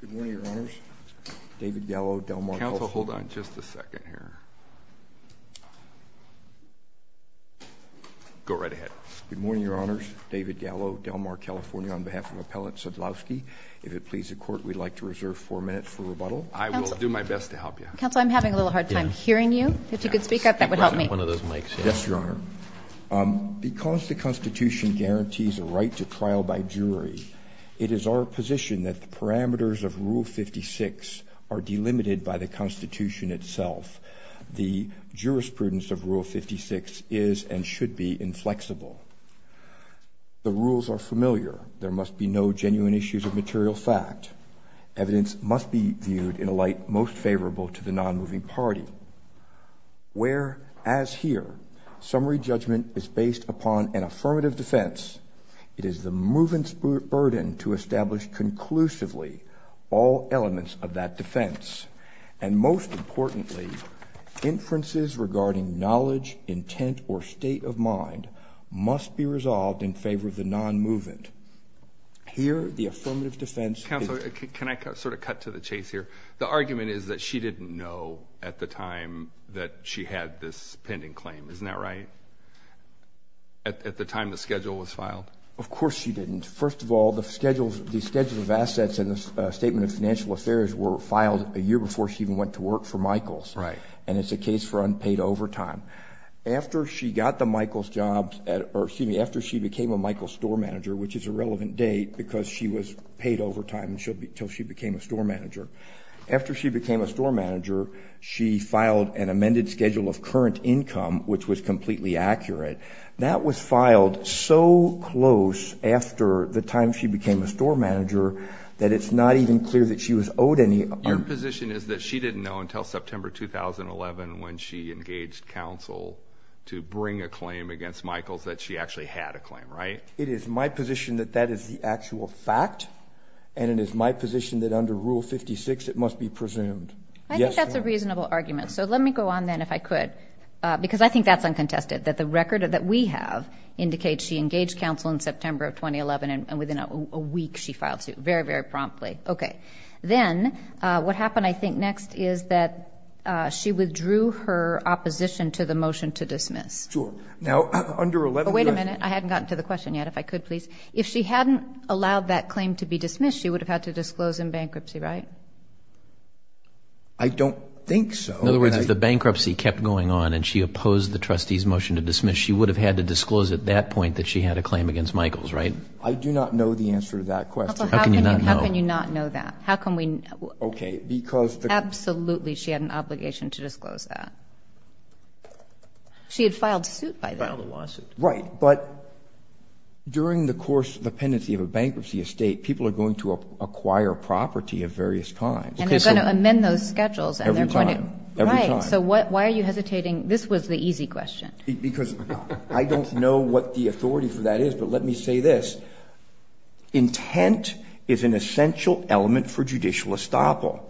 Good morning, Your Honors. David Gallo, Del Mar, California. Counsel, hold on just a second here. Go right ahead. Good morning, Your Honors. David Gallo, Del Mar, California. On behalf of Appellant Sadlowski, if it please the Court, we'd like to reserve four minutes for rebuttal. I will do my best to help you. Counsel, I'm having a little hard time hearing you. If you could speak up, that would help me. Yes, Your Honor. Because the Constitution guarantees a right to trial by jury, it is our position that the parameters of Rule 56 are delimited by the Constitution itself. The jurisprudence of Rule 56 is and should be inflexible. The rules are familiar. There must be no genuine issues of material fact. Evidence must be viewed in a light most favorable to the nonmoving party. Whereas here, summary judgment is based upon an affirmative defense, it is the movant's burden to establish conclusively all elements of that defense. And most importantly, inferences regarding knowledge, intent, or state of mind must be resolved in favor of the nonmovent. Here, the affirmative defense— Counsel, can I sort of cut to the chase here? The argument is that she didn't know at the time that she had this pending claim. Isn't that right? At the time the schedule was filed. Of course she didn't. First of all, the schedule of assets in the Statement of Financial Affairs were filed a year before she even went to work for Michaels. Right. And it's a case for unpaid overtime. After she got the Michaels job—or excuse me, after she became a Michaels store manager, which is a relevant date because she was paid overtime until she became a store manager. After she became a store manager, she filed an amended schedule of current income, which was completely accurate. That was filed so close after the time she became a store manager that it's not even clear that she was owed any— Your position is that she didn't know until September 2011 when she engaged counsel to bring a claim against Michaels that she actually had a claim, right? It is my position that that is the actual fact, and it is my position that under Rule 56 it must be presumed. I think that's a reasonable argument. So let me go on then, if I could, because I think that's uncontested, that the record that we have indicates she engaged counsel in September of 2011 and within a week she filed suit, very, very promptly. Okay. Then what happened, I think, next is that she withdrew her opposition to the motion to dismiss. Sure. Wait a minute. I hadn't gotten to the question yet. If I could, please. If she hadn't allowed that claim to be dismissed, she would have had to disclose in bankruptcy, right? I don't think so. In other words, if the bankruptcy kept going on and she opposed the trustee's motion to dismiss, she would have had to disclose at that point that she had a claim against Michaels, right? I do not know the answer to that question. How can you not know? How can you not know that? How can we— Okay, because— Absolutely she had an obligation to disclose that. She had filed suit by then. Filed a lawsuit. Right. But during the course of the pendency of a bankruptcy estate, people are going to acquire property of various kinds. And they're going to amend those schedules. Every time. Right. So why are you hesitating? This was the easy question. Because I don't know what the authority for that is, but let me say this. Intent is an essential element for judicial estoppel.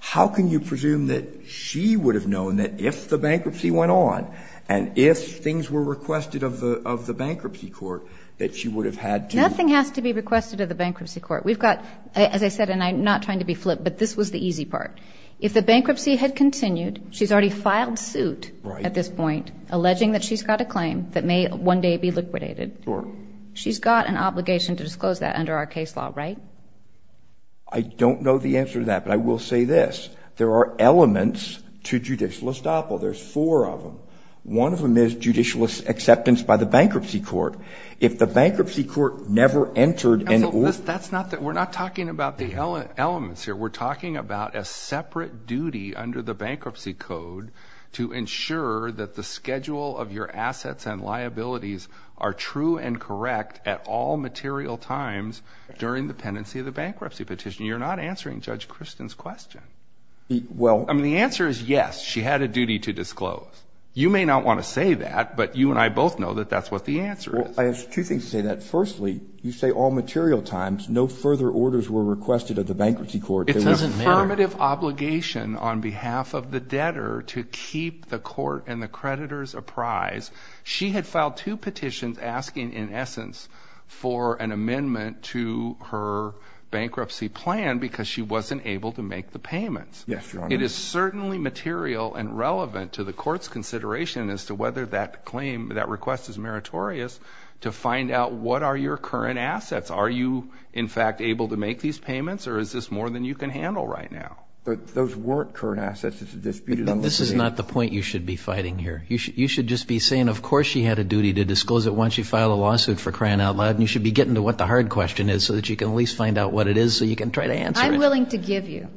How can you presume that she would have known that if the bankruptcy went on and if things were requested of the bankruptcy court, that she would have had to— Nothing has to be requested of the bankruptcy court. We've got, as I said, and I'm not trying to be flip, but this was the easy part. If the bankruptcy had continued, she's already filed suit at this point, alleging that she's got a claim that may one day be liquidated. Sure. She's got an obligation to disclose that under our case law, right? I don't know the answer to that, but I will say this. There are elements to judicial estoppel. There's four of them. One of them is judicial acceptance by the bankruptcy court. If the bankruptcy court never entered— We're not talking about the elements here. We're talking about a separate duty under the bankruptcy code to ensure that the schedule of your assets and liabilities are true and correct at all material times during the pendency of the bankruptcy petition. You're not answering Judge Kristen's question. Well— I mean, the answer is yes, she had a duty to disclose. You may not want to say that, but you and I both know that that's what the answer is. Well, I have two things to say to that. Firstly, you say all material times, no further orders were requested of the bankruptcy court. It doesn't matter. It's an affirmative obligation on behalf of the debtor to keep the court and the creditors apprised. She had filed two petitions asking, in essence, for an amendment to her bankruptcy plan because she wasn't able to make the payments. Yes, Your Honor. It is certainly material and relevant to the court's consideration as to whether that claim, that request is meritorious to find out what are your current assets. Are you, in fact, able to make these payments, or is this more than you can handle right now? Those weren't current assets. It's a disputed— This is not the point you should be fighting here. You should just be saying, of course she had a duty to disclose it once she filed a lawsuit for crying out loud, and you should be getting to what the hard question is so that you can at least find out what it is so you can try to answer it. I'm willing to give you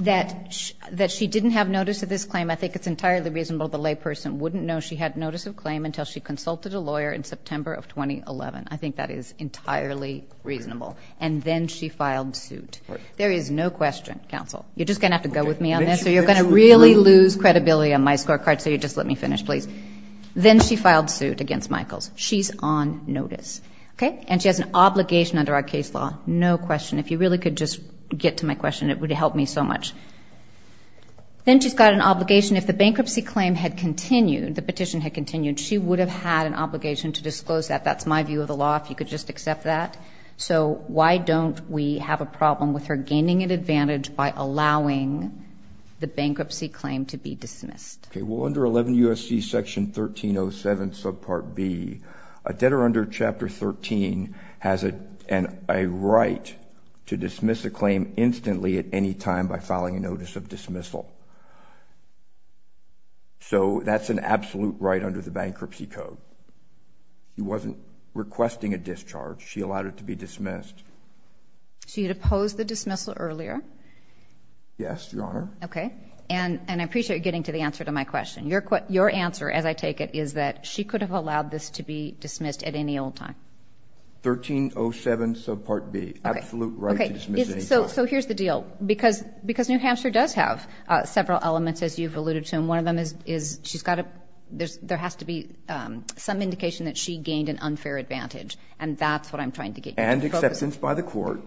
that she didn't have notice of this claim. I think it's entirely reasonable the layperson wouldn't know she had notice of claim until she consulted a lawyer in September of 2011. I think that is entirely reasonable. And then she filed suit. There is no question, counsel. You're just going to have to go with me on this, or you're going to really lose credibility on my scorecard. So you'll just let me finish, please. Then she filed suit against Michaels. She's on notice. And she has an obligation under our case law. No question. If you really could just get to my question, it would help me so much. Then she's got an obligation. If the bankruptcy claim had continued, the petition had continued, she would have had an obligation to disclose that. That's my view of the law, if you could just accept that. So why don't we have a problem with her gaining an advantage by allowing the bankruptcy claim to be dismissed? Well, under 11 U.S.C. section 1307 subpart B, a debtor under Chapter 13 has a right to dismiss a claim instantly at any time by filing a notice of dismissal. So that's an absolute right under the bankruptcy code. She wasn't requesting a discharge. She allowed it to be dismissed. She had opposed the dismissal earlier. Yes, Your Honor. Okay. And I appreciate you getting to the answer to my question. Your answer, as I take it, is that she could have allowed this to be dismissed at any old time. 1307 subpart B, absolute right to dismiss at any time. Okay. So here's the deal. Because New Hampshire does have several elements, as you've alluded to, and one of them is there has to be some indication that she gained an unfair advantage, and that's what I'm trying to get you to focus on. And acceptance by the court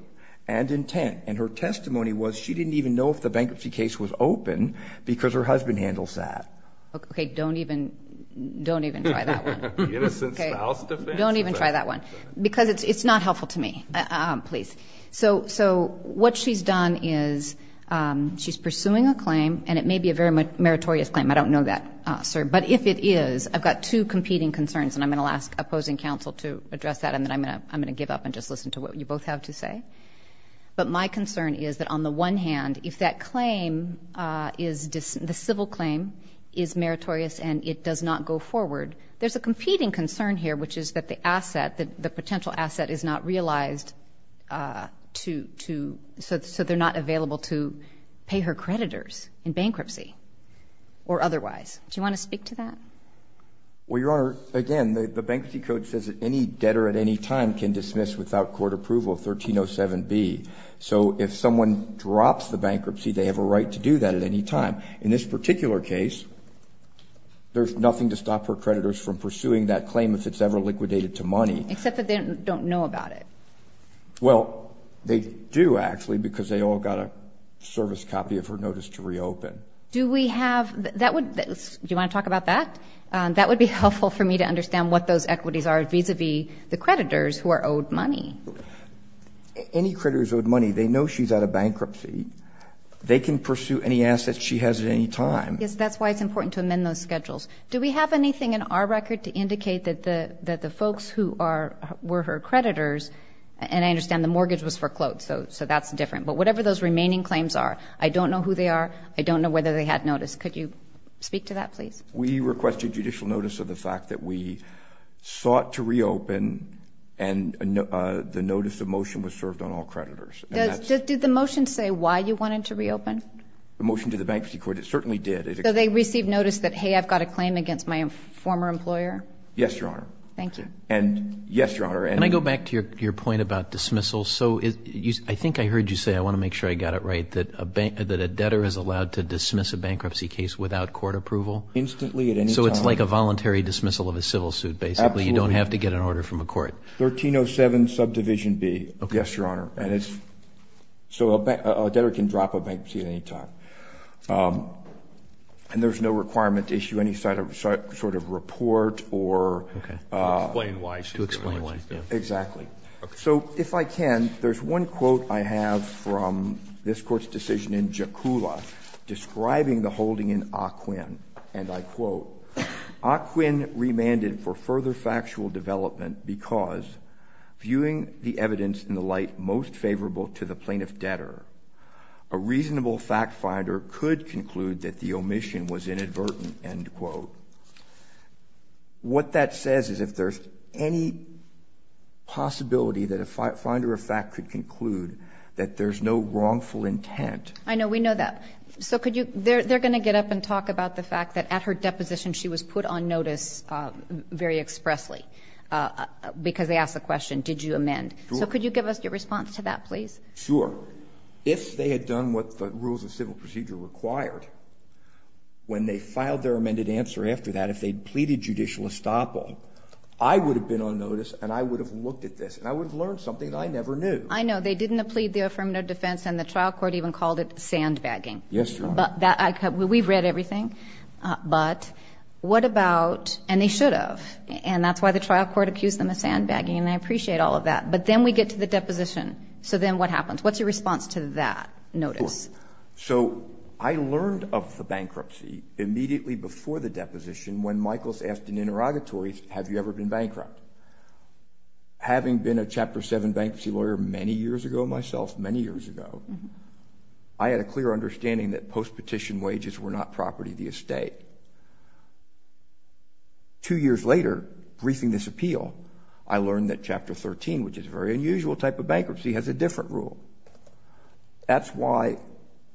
and intent. And her testimony was she didn't even know if the bankruptcy case was open because her husband handles that. Okay, don't even try that one. Innocent spouse defense. Don't even try that one because it's not helpful to me, please. So what she's done is she's pursuing a claim, and it may be a very meritorious claim. I don't know that, sir. But if it is, I've got two competing concerns, and I'm going to ask opposing counsel to address that and then I'm going to give up and just listen to what you both have to say. But my concern is that on the one hand, if that claim is the civil claim is meritorious and it does not go forward, there's a competing concern here, which is that the asset, the potential asset is not realized to, so they're not available to pay her creditors in bankruptcy or otherwise. Do you want to speak to that? Well, Your Honor, again, the bankruptcy code says that any debtor at any time can dismiss without court approval, 1307B. So if someone drops the bankruptcy, they have a right to do that at any time. In this particular case, there's nothing to stop her creditors from pursuing that claim if it's ever liquidated to money. Except that they don't know about it. Well, they do, actually, because they all got a service copy of her notice to reopen. Do we have that? Do you want to talk about that? That would be helpful for me to understand what those equities are vis-à-vis the creditors who are owed money. Any creditors owed money, they know she's out of bankruptcy. They can pursue any assets she has at any time. Yes, that's why it's important to amend those schedules. Do we have anything in our record to indicate that the folks who were her creditors, and I understand the mortgage was foreclosed, so that's different. But whatever those remaining claims are, I don't know who they are. I don't know whether they had notice. Could you speak to that, please? We request your judicial notice of the fact that we sought to reopen and the notice of motion was served on all creditors. Did the motion say why you wanted to reopen? The motion to the Bankruptcy Court, it certainly did. So they received notice that, hey, I've got a claim against my former employer? Yes, Your Honor. Thank you. Yes, Your Honor. Can I go back to your point about dismissal? I think I heard you say, I want to make sure I got it right, that a debtor is allowed to dismiss a bankruptcy case without court approval. Instantly, at any time. So it's like a voluntary dismissal of a civil suit, basically. Absolutely. You don't have to get an order from a court. 1307, subdivision B. Yes, Your Honor. And it's so a debtor can drop a bankruptcy at any time. And there's no requirement to issue any sort of report or to explain why. To explain why. Exactly. So if I can, there's one quote I have from this Court's decision in Jakula describing the holding in Ocwin, and I quote, Ocwin remanded for further factual development because, viewing the evidence in the light most favorable to the plaintiff debtor, a reasonable fact finder could conclude that the omission was inadvertent, end quote. What that says is if there's any possibility that a finder of fact could conclude that there's no wrongful intent. I know. We know that. So could you they're going to get up and talk about the fact that at her deposition she was put on notice very expressly because they asked the question, did you amend? Sure. So could you give us your response to that, please? Sure. If they had done what the rules of civil procedure required, when they filed their amended answer after that, if they'd pleaded judicial estoppel, I would have been on notice and I would have looked at this and I would have learned something I never knew. I know. They didn't plead the affirmative defense and the trial court even called it sandbagging. Yes, Your Honor. We've read everything. But what about, and they should have, and that's why the trial court accused them of sandbagging, and I appreciate all of that. But then we get to the deposition. So then what happens? What's your response to that notice? Sure. So I learned of the bankruptcy immediately before the deposition when Michaels asked in interrogatories, have you ever been bankrupt? Having been a Chapter 7 bankruptcy lawyer many years ago myself, many years ago, I had a clear understanding that post-petition wages were not property of the estate. Two years later, briefing this appeal, I learned that Chapter 13, which is a very unusual type of bankruptcy, has a different rule. That's why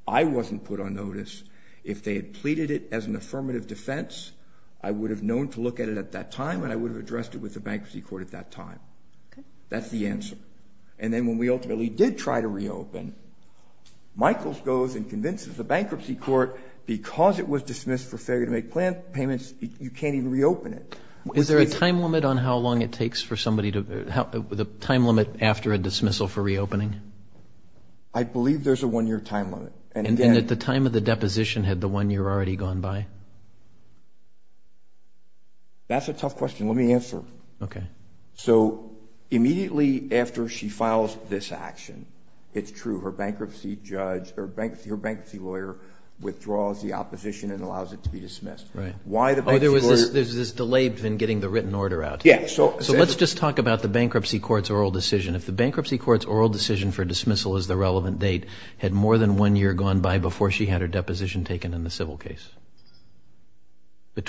I wasn't put on notice. If they had pleaded it as an affirmative defense, I would have known to look at it at that time and I would have addressed it with the bankruptcy court at that time. Okay. That's the answer. And then when we ultimately did try to reopen, Michaels goes and convinces the bankruptcy court because it was dismissed for failure to make plan payments, you can't even reopen it. Is there a time limit on how long it takes for somebody to, the time limit after a dismissal for reopening? I believe there's a one-year time limit. And at the time of the deposition, had the one year already gone by? That's a tough question. Let me answer. Okay. So immediately after she files this action, it's true, her bankruptcy lawyer withdraws the opposition and allows it to be dismissed. Right. There's this delay in getting the written order out. Yeah. So let's just talk about the bankruptcy court's oral decision. If the bankruptcy court's oral decision for dismissal is the relevant date, had more than one year gone by before she had her deposition taken in the civil case?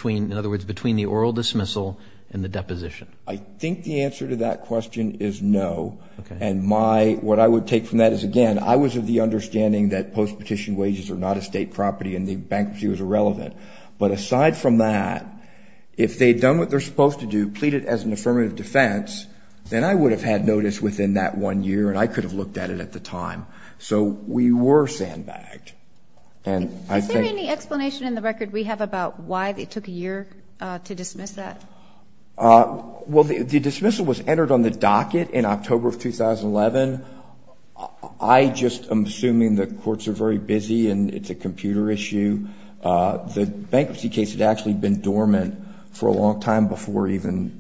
In other words, between the oral dismissal and the deposition? I think the answer to that question is no. Okay. And what I would take from that is, again, I was of the understanding that post-petition wages are not a state property and the bankruptcy was irrelevant. But aside from that, if they'd done what they're supposed to do, pleaded as an affirmative defense, then I would have had notice within that one year and I could have looked at it at the time. So we were sandbagged. Is there any explanation in the record we have about why it took a year to dismiss that? Well, the dismissal was entered on the docket in October of 2011. I just am assuming the courts are very busy and it's a computer issue. The bankruptcy case had actually been dormant for a long time before even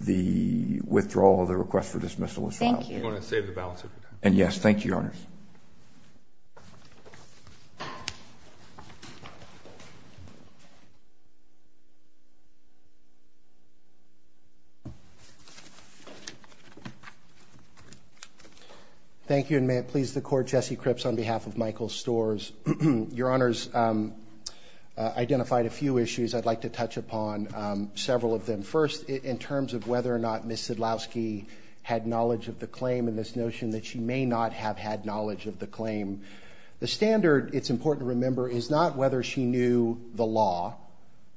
the withdrawal of the request for dismissal was filed. Thank you. I'm going to save the balance of your time. And, yes, thank you, Your Honors. Thank you, and may it please the Court, Jesse Cripps on behalf of Michael Storrs. Your Honors identified a few issues I'd like to touch upon, several of them. The first in terms of whether or not Ms. Sidlowski had knowledge of the claim and this notion that she may not have had knowledge of the claim. The standard, it's important to remember, is not whether she knew the law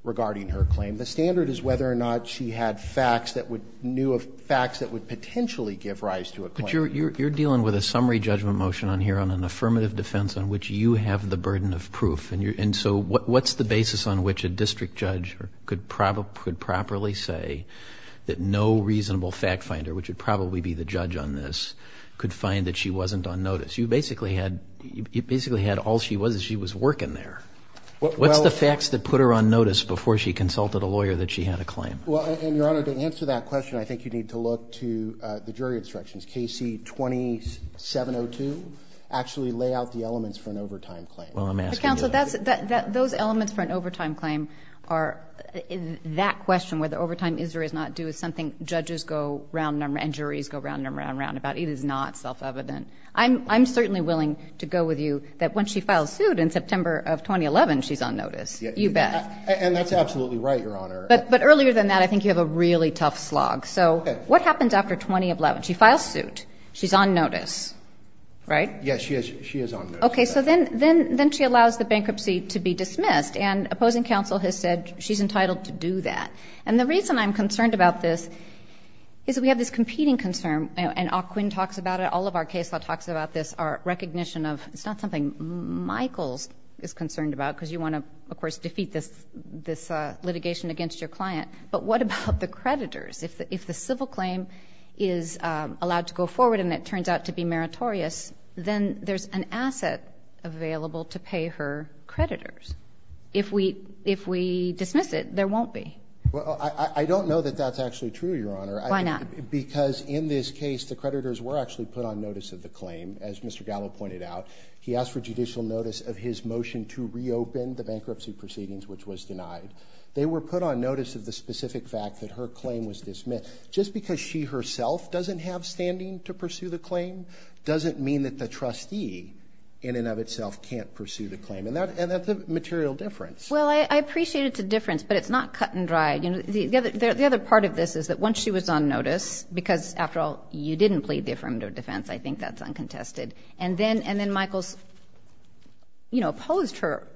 regarding her claim. The standard is whether or not she had facts that would ñ knew of facts that would potentially give rise to a claim. But you're dealing with a summary judgment motion on here on an affirmative defense on which you have the burden of proof. And so what's the basis on which a district judge could properly say that no reasonable fact finder, which would probably be the judge on this, could find that she wasn't on notice? You basically had all she was is she was working there. What's the facts that put her on notice before she consulted a lawyer that she had a claim? Well, and, Your Honor, to answer that question, I think you'd need to look to the jury instructions. KC 2702 actually lay out the elements for an overtime claim. Well, I'm asking you that. But, Counsel, those elements for an overtime claim are ñ that question, whether overtime is or is not due, is something judges go round ñ and juries go round and round and round about. It is not self-evident. I'm certainly willing to go with you that when she files suit in September of 2011, she's on notice. You bet. And that's absolutely right, Your Honor. But earlier than that, I think you have a really tough slog. So what happens after 2011? She files suit. She's on notice. Right? Yes, she is on notice. Okay. So then she allows the bankruptcy to be dismissed. And opposing counsel has said she's entitled to do that. And the reason I'm concerned about this is that we have this competing concern, and Ocwin talks about it, all of our case law talks about this, our recognition of it's not something Michaels is concerned about because you want to, of course, defeat this litigation against your client. But what about the creditors? If the civil claim is allowed to go forward and it turns out to be meritorious, then there's an asset available to pay her creditors. If we dismiss it, there won't be. Well, I don't know that that's actually true, Your Honor. Why not? Because in this case, the creditors were actually put on notice of the claim, as Mr. Gallo pointed out. He asked for judicial notice of his motion to reopen the bankruptcy proceedings, which was denied. They were put on notice of the specific fact that her claim was dismissed. Just because she herself doesn't have standing to pursue the claim doesn't mean that the trustee in and of itself can't pursue the claim. And that's a material difference. Well, I appreciate it's a difference, but it's not cut and dry. The other part of this is that once she was on notice, because, after all, you didn't plead the affirmative defense, I think that's uncontested. And then Michaels, you know, opposed her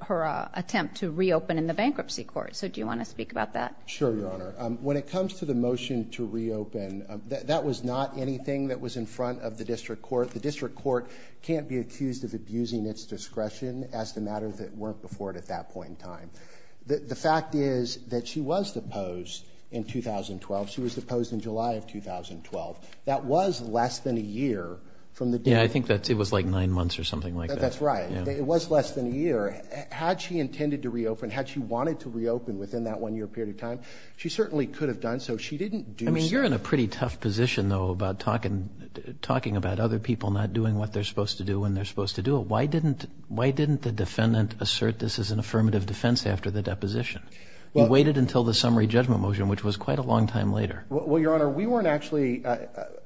attempt to reopen in the bankruptcy So do you want to speak about that? Sure, Your Honor. When it comes to the motion to reopen, that was not anything that was in front of the district court. The district court can't be accused of abusing its discretion as to matters that weren't before it at that point in time. The fact is that she was deposed in 2012. She was deposed in July of 2012. That was less than a year from the date. Yeah, I think it was like nine months or something like that. That's right. It was less than a year. Had she intended to reopen, had she wanted to reopen within that one-year period of time, she certainly could have done so. She didn't do something. I mean, you're in a pretty tough position, though, talking about other people not doing what they're supposed to do when they're supposed to do it. Why didn't the defendant assert this is an affirmative defense after the deposition? You waited until the summary judgment motion, which was quite a long time later. Well, Your Honor, we weren't actually, that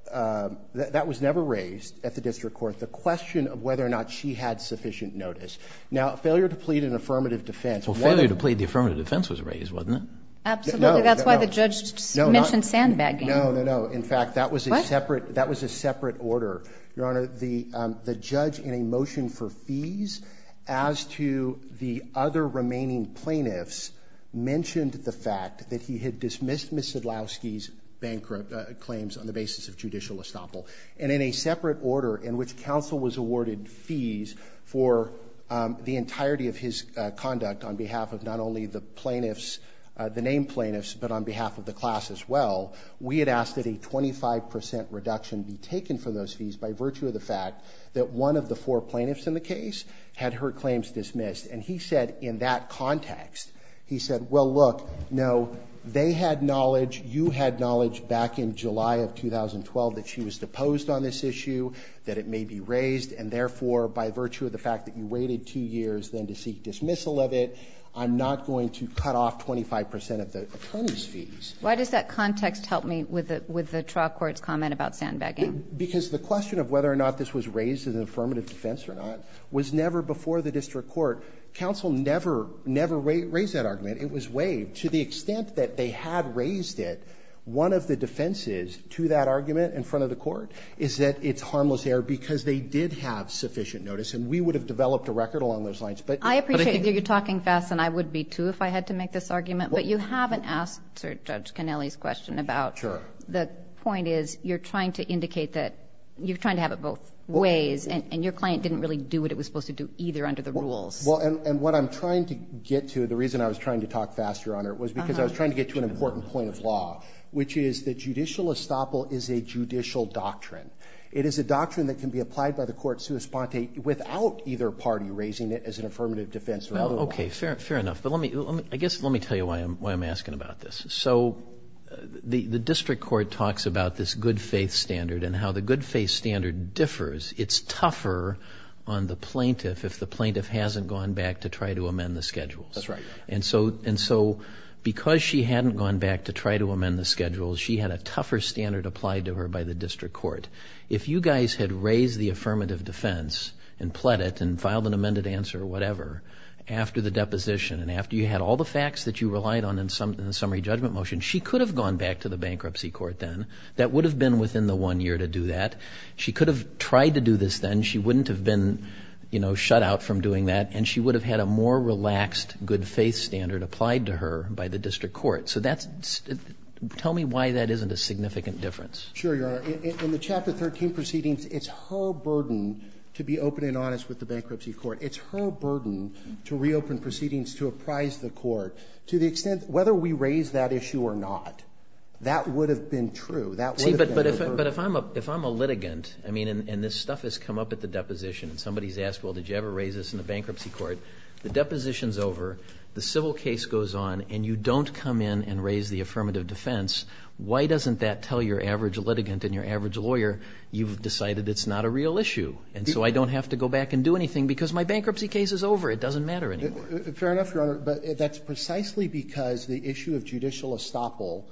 was never raised at the district court, the question of whether or not she had sufficient notice. Now, failure to plead an affirmative defense. Well, failure to plead the affirmative defense was raised, wasn't it? Absolutely. That's why the judge mentioned sandbagging. No, no, no. In fact, that was a separate, that was a separate order. Your Honor, the judge in a motion for fees as to the other remaining plaintiffs mentioned the fact that he had dismissed Ms. Sedlowski's bankrupt claims on the basis of judicial estoppel. And in a separate order in which counsel was awarded fees for the entirety of his conduct on behalf of not only the plaintiffs, the named plaintiffs in the case had her claims dismissed. And he said in that context, he said, well, look, no, they had knowledge, you had knowledge back in July of 2012 that she was deposed on this issue, that it may be raised. And therefore, by virtue of the fact that you waited two years then to seek dismissal of it, I'm not going to cut off 25% of the attorney's fees. Why does that context help me with the, with the trial? Because the question of whether or not this was raised as an affirmative defense or not was never before the district court. Counsel never, never raised that argument. It was waived to the extent that they had raised it. One of the defenses to that argument in front of the court is that it's harmless error because they did have sufficient notice. And we would have developed a record along those lines. I appreciate that you're talking fast and I would be too if I had to make this argument. But you haven't asked Judge Kennelly's question about the point is you're trying to indicate that you're trying to have it both ways and your client didn't really do what it was supposed to do either under the rules. Well, and what I'm trying to get to, the reason I was trying to talk fast, Your Honor, was because I was trying to get to an important point of law, which is that judicial estoppel is a judicial doctrine. It is a doctrine that can be applied by the court sui sponte without either party raising it as an affirmative defense or otherwise. Okay. Fair enough. But I guess let me tell you why I'm asking about this. So the district court talks about this good-faith standard and how the good-faith standard differs. It's tougher on the plaintiff if the plaintiff hasn't gone back to try to amend the schedules. That's right. And so because she hadn't gone back to try to amend the schedules, she had a tougher standard applied to her by the district court. If you guys had raised the affirmative defense and pled it and filed an after you had all the facts that you relied on in the summary judgment motion, she could have gone back to the bankruptcy court then. That would have been within the one year to do that. She could have tried to do this then. She wouldn't have been, you know, shut out from doing that. And she would have had a more relaxed good-faith standard applied to her by the district court. So that's – tell me why that isn't a significant difference. Sure, Your Honor. In the Chapter 13 proceedings, it's her burden to be open and honest with the bankruptcy court. It's her burden to reopen proceedings to apprise the court to the extent, whether we raise that issue or not, that would have been true. See, but if I'm a litigant, I mean, and this stuff has come up at the deposition and somebody's asked, well, did you ever raise this in the bankruptcy court? The deposition's over, the civil case goes on, and you don't come in and raise the affirmative defense. Why doesn't that tell your average litigant and your average lawyer, you've decided it's not a real issue and so I don't have to go back and do anything because my bankruptcy case is over. It doesn't matter anymore. Fair enough, Your Honor. But that's precisely because the issue of judicial estoppel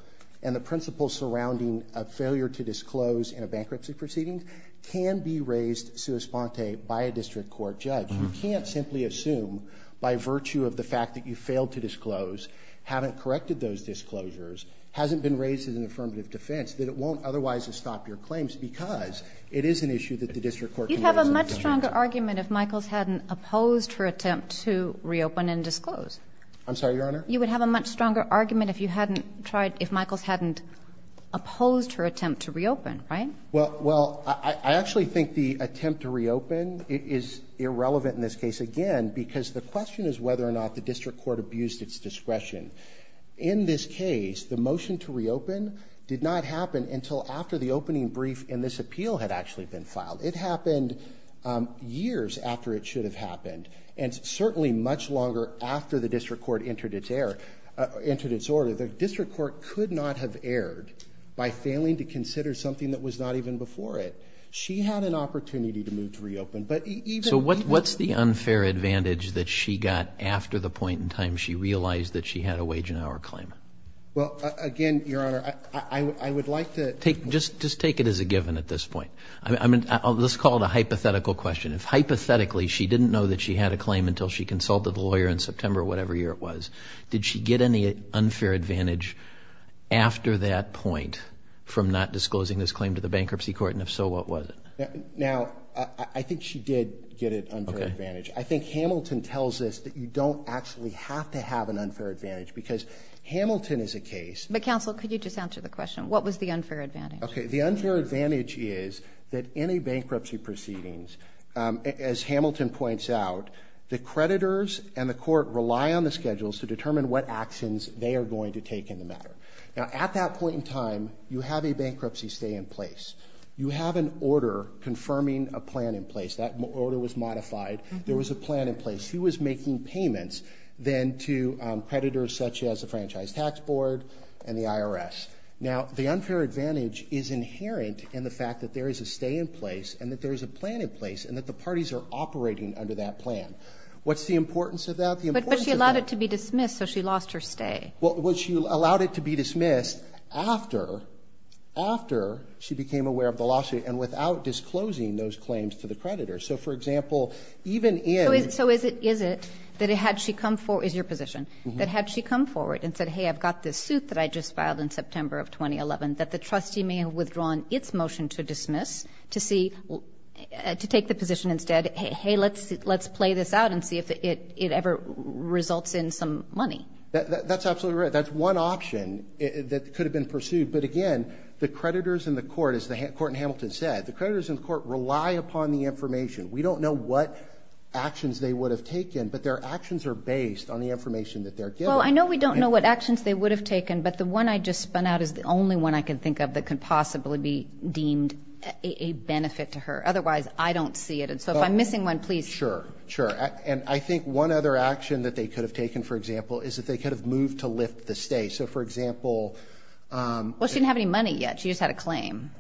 and the principles surrounding a failure to disclose in a bankruptcy proceeding can be raised sua sponte by a district court judge. You can't simply assume by virtue of the fact that you failed to disclose, haven't corrected those disclosures, hasn't been raised as an affirmative defense, that it won't otherwise estop your claims because it is an issue that the district court can raise. You'd have a much stronger argument if Michaels hadn't opposed her attempt to reopen and disclose. I'm sorry, Your Honor? You would have a much stronger argument if you hadn't tried, if Michaels hadn't opposed her attempt to reopen, right? Well, I actually think the attempt to reopen is irrelevant in this case, again, because the question is whether or not the district court abused its discretion. In this case, the motion to reopen did not happen until after the opening brief in this appeal had actually been filed. It happened years after it should have happened, and certainly much longer after the district court entered its air, entered its order. The district court could not have erred by failing to consider something that was not even before it. She had an opportunity to move to reopen. So what's the unfair advantage that she got after the point in time she realized that she had a wage and hour claim? Well, again, Your Honor, I would like to take, just take it as a given at this point. I mean, let's call it a hypothetical question. If hypothetically she didn't know that she had a claim until she consulted a lawyer in September, whatever year it was, did she get any unfair advantage after that point from not disclosing this claim to the bankruptcy court? And if so, what was it? Now, I think she did get an unfair advantage. I think Hamilton tells us that you don't actually have to have an unfair advantage because Hamilton is a case. But, counsel, could you just answer the question? What was the unfair advantage? Okay. The unfair advantage is that any bankruptcy proceedings, as Hamilton points out, the creditors and the court rely on the schedules to determine what actions they are going to take in the matter. Now, at that point in time, you have a bankruptcy stay in place. You have an order confirming a plan in place. That order was modified. There was a plan in place. She was making payments then to creditors such as the Franchise Tax Board and the IRS. Now, the unfair advantage is inherent in the fact that there is a stay in place and that there is a plan in place and that the parties are operating under that plan. What's the importance of that? The importance of that. But she allowed it to be dismissed, so she lost her stay. Well, she allowed it to be dismissed after, after she became aware of the lawsuit and without disclosing those claims to the creditors. So, for example, even in – So is it that had she come – is your position – that had she come forward and said, hey, I've got this suit that I just filed in September of 2011, that the trustee may have withdrawn its motion to dismiss to see – to take the position instead, hey, let's play this out and see if it ever results in some money? That's absolutely right. That's one option that could have been pursued. But, again, the creditors in the court, as the court in Hamilton said, the creditors in the court rely upon the information. We don't know what actions they would have taken, but their actions are based on the information that they're given. So I know we don't know what actions they would have taken, but the one I just spun out is the only one I can think of that could possibly be deemed a benefit to her. Otherwise, I don't see it. And so if I'm missing one, please – Sure, sure. And I think one other action that they could have taken, for example, is that they could have moved to lift the stay. So, for example – Well, she didn't have any money yet. She just had a claim.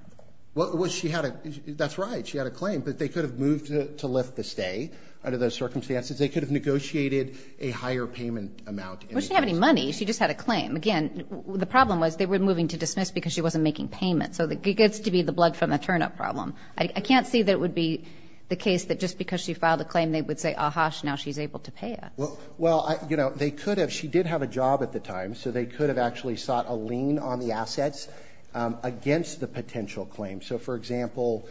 Well, she had a – that's right. She had a claim. But they could have moved to lift the stay under those circumstances. They could have negotiated a higher payment amount. Well, she didn't have any money. She just had a claim. Again, the problem was they were moving to dismiss because she wasn't making payments. So it gets to be the blood from the turnip problem. I can't see that it would be the case that just because she filed a claim, they would say, ah-hah, now she's able to pay it. Well, you know, they could have – she did have a job at the time, so they could have actually sought a lien on the assets against the potential claim. So, for example,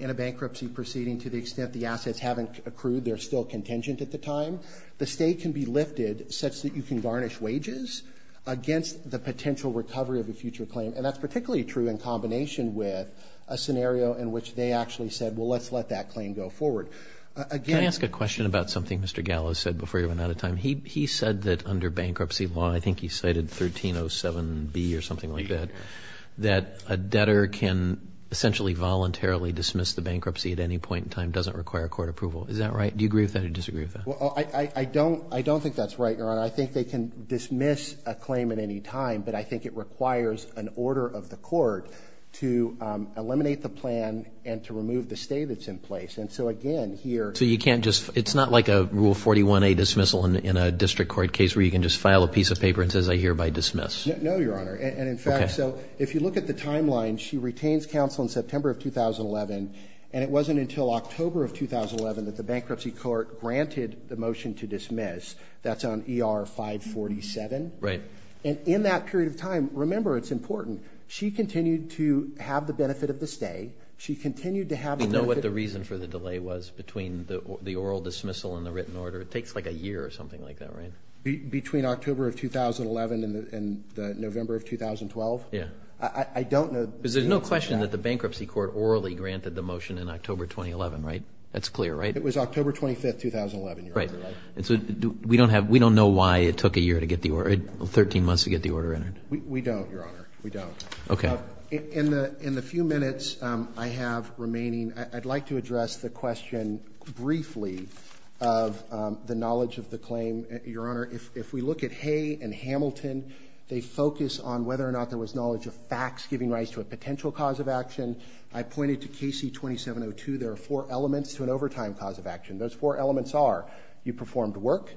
in a bankruptcy proceeding, to the extent the assets haven't accrued, they're still contingent at the time, the stay can be lifted such that you can garnish wages against the potential recovery of a future claim. And that's particularly true in combination with a scenario in which they actually said, well, let's let that claim go forward. Again – Can I ask a question about something Mr. Gallo said before he went out of time? He said that under bankruptcy law, I think he cited 1307B or something like that, that a debtor can essentially voluntarily dismiss the bankruptcy at any point in time, doesn't require court approval. Is that right? Do you agree with that or disagree with that? Well, I don't think that's right, Your Honor. I think they can dismiss a claim at any time, but I think it requires an order of the court to eliminate the plan and to remove the stay that's in place. And so, again, here – So you can't just – it's not like a Rule 41A dismissal in a district court case where you can just file a piece of paper and it says, I hereby dismiss. No, Your Honor. And, in fact, so if you look at the timeline, she retains counsel in September of 2011, and it wasn't until October of 2011 that the bankruptcy court granted the motion to dismiss. That's on ER 547. Right. And in that period of time, remember, it's important, she continued to have the benefit of the stay. She continued to have the benefit – Do you know what the reason for the delay was between the oral dismissal and the written order? It takes like a year or something like that, right? Between October of 2011 and November of 2012? Yeah. I don't know the reason for that. I understand that the bankruptcy court orally granted the motion in October 2011, right? That's clear, right? It was October 25, 2011, Your Honor. Right. And so we don't have – we don't know why it took a year to get the order – 13 months to get the order entered. We don't, Your Honor. We don't. Okay. In the few minutes I have remaining, I'd like to address the question briefly of the knowledge of the claim. Your Honor, if we look at Hay and Hamilton, they focus on whether or not there was knowledge of facts giving rise to a potential cause of action. I pointed to KC-2702. There are four elements to an overtime cause of action. Those four elements are you performed work,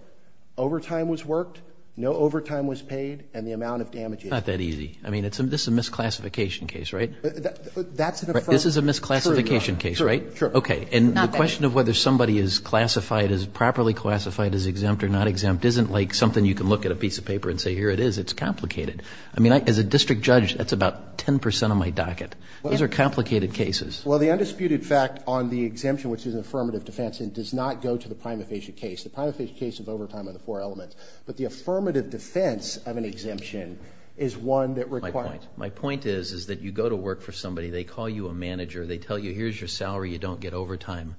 overtime was worked, no overtime was paid, and the amount of damages. Not that easy. I mean, this is a misclassification case, right? That's an affirmative – This is a misclassification case, right? Sure. Okay. And the question of whether somebody is classified as – properly classified as exempt or not exempt isn't like something you can look at a piece of paper and say, here it is. It's complicated. I mean, as a district judge, that's about 10 percent of my docket. Those are complicated cases. Well, the undisputed fact on the exemption, which is an affirmative defense, does not go to the prima facie case. The prima facie case of overtime are the four elements. But the affirmative defense of an exemption is one that requires – My point is that you go to work for somebody. They call you a manager. They tell you, here's your salary. You don't get overtime.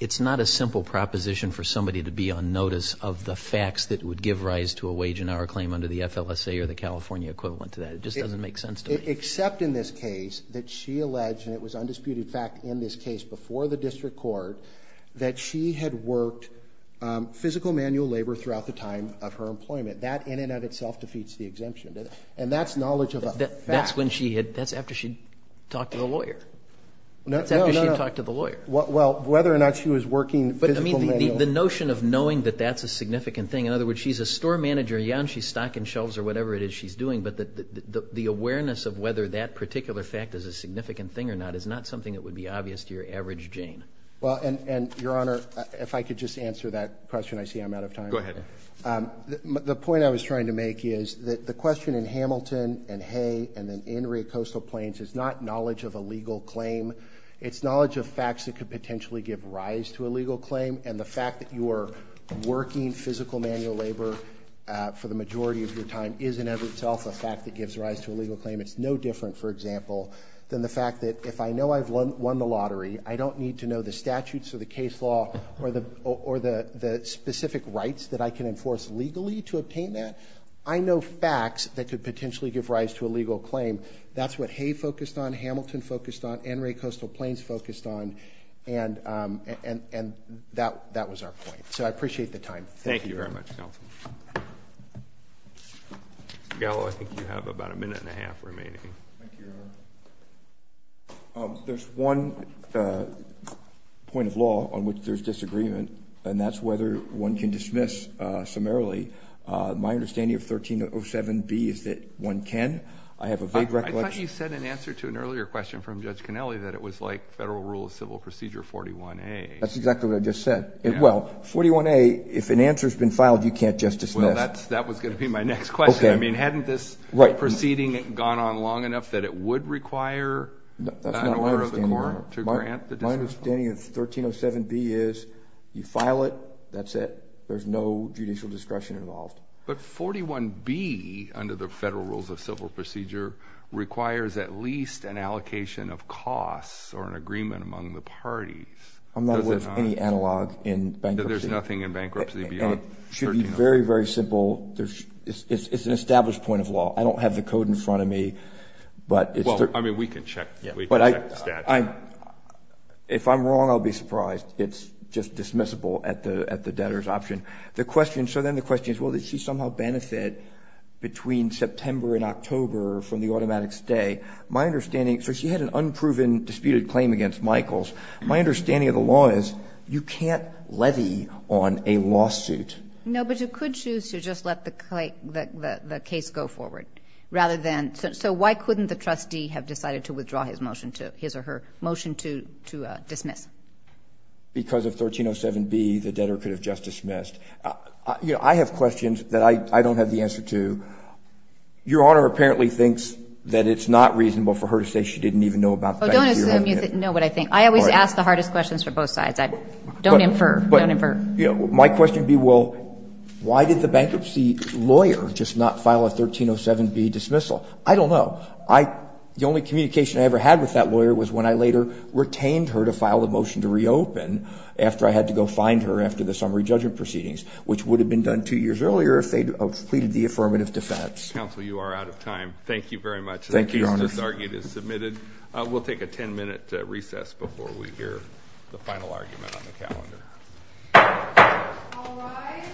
It's not a simple proposition for somebody to be on notice of the facts that would give rise to a wage and hour claim under the FLSA or the California equivalent to that. It just doesn't make sense to me. Except in this case that she alleged, and it was undisputed fact in this case before the district court, that she had worked physical manual labor throughout the time of her employment. That in and of itself defeats the exemption. And that's knowledge of a fact. That's when she had – that's after she talked to the lawyer. No, no, no. That's after she talked to the lawyer. Well, whether or not she was working physical manual – But, I mean, the notion of knowing that that's a significant thing. In other words, she's a store manager. Yeah, and she's stocking shelves or whatever it is she's doing. But the awareness of whether that particular fact is a significant thing or not is not something that would be obvious to your average Jane. Well, and, Your Honor, if I could just answer that question. I see I'm out of time. Go ahead. The point I was trying to make is that the question in Hamilton and Hay and then in Rio Coastal Plains is not knowledge of a legal claim. It's knowledge of facts that could potentially give rise to a legal claim. And the fact that you are working physical manual labor for the majority of your time is in and of itself a fact that gives rise to a legal claim. It's no different, for example, than the fact that if I know I've won the lottery, I don't need to know the statutes or the case law or the specific rights that I can enforce legally to obtain that. I know facts that could potentially give rise to a legal claim. That's what Hay focused on, Hamilton focused on, and Rio Coastal Plains focused on. And that was our point. So I appreciate the time. Thank you very much, Counsel. Gallo, I think you have about a minute and a half remaining. Thank you, Your Honor. There's one point of law on which there's disagreement, and that's whether one can dismiss summarily. My understanding of 1307B is that one can. I have a vague recollection. I thought you said in answer to an earlier question from Judge Conelli that it was like Federal Rule of Civil Procedure 41A. That's exactly what I just said. Well, 41A, if an answer has been filed, you can't just dismiss. Well, that was going to be my next question. I mean, hadn't this proceeding gone on long enough that it would require an order of the court to grant the dismissal? My understanding of 1307B is you file it, that's it, there's no judicial discretion involved. But 41B, under the Federal Rules of Civil Procedure, requires at least an allocation of costs or an agreement among the parties. I'm not aware of any analog in bankruptcy. There's nothing in bankruptcy beyond 1307B. It should be very, very simple. It's an established point of law. I don't have the code in front of me. Well, I mean, we can check the statute. If I'm wrong, I'll be surprised. It's just dismissible at the debtor's option. The question, so then the question is, well, did she somehow benefit between September and October from the automatic stay? My understanding, so she had an unproven disputed claim against Michaels. My understanding of the law is you can't levy on a lawsuit. No, but you could choose to just let the case go forward rather than, so why couldn't the trustee have decided to withdraw his motion to, his or her motion to dismiss? Because of 1307B, the debtor could have just dismissed. You know, I have questions that I don't have the answer to. Your Honor apparently thinks that it's not reasonable for her to say she didn't even know about bankruptcy or anything. Well, don't assume you didn't know what I think. I always ask the hardest questions for both sides. Don't infer. Don't infer. My question would be, well, why did the bankruptcy lawyer just not file a 1307B dismissal? I don't know. The only communication I ever had with that lawyer was when I later retained her to file the motion to reopen after I had to go find her after the summary judgment proceedings, which would have been done two years earlier if they'd completed the affirmative defense. Counsel, you are out of time. Thank you very much. Thank you, Your Honor. The case just argued is submitted. We'll take a 10-minute recess before we hear the final argument on the calendar. All rise.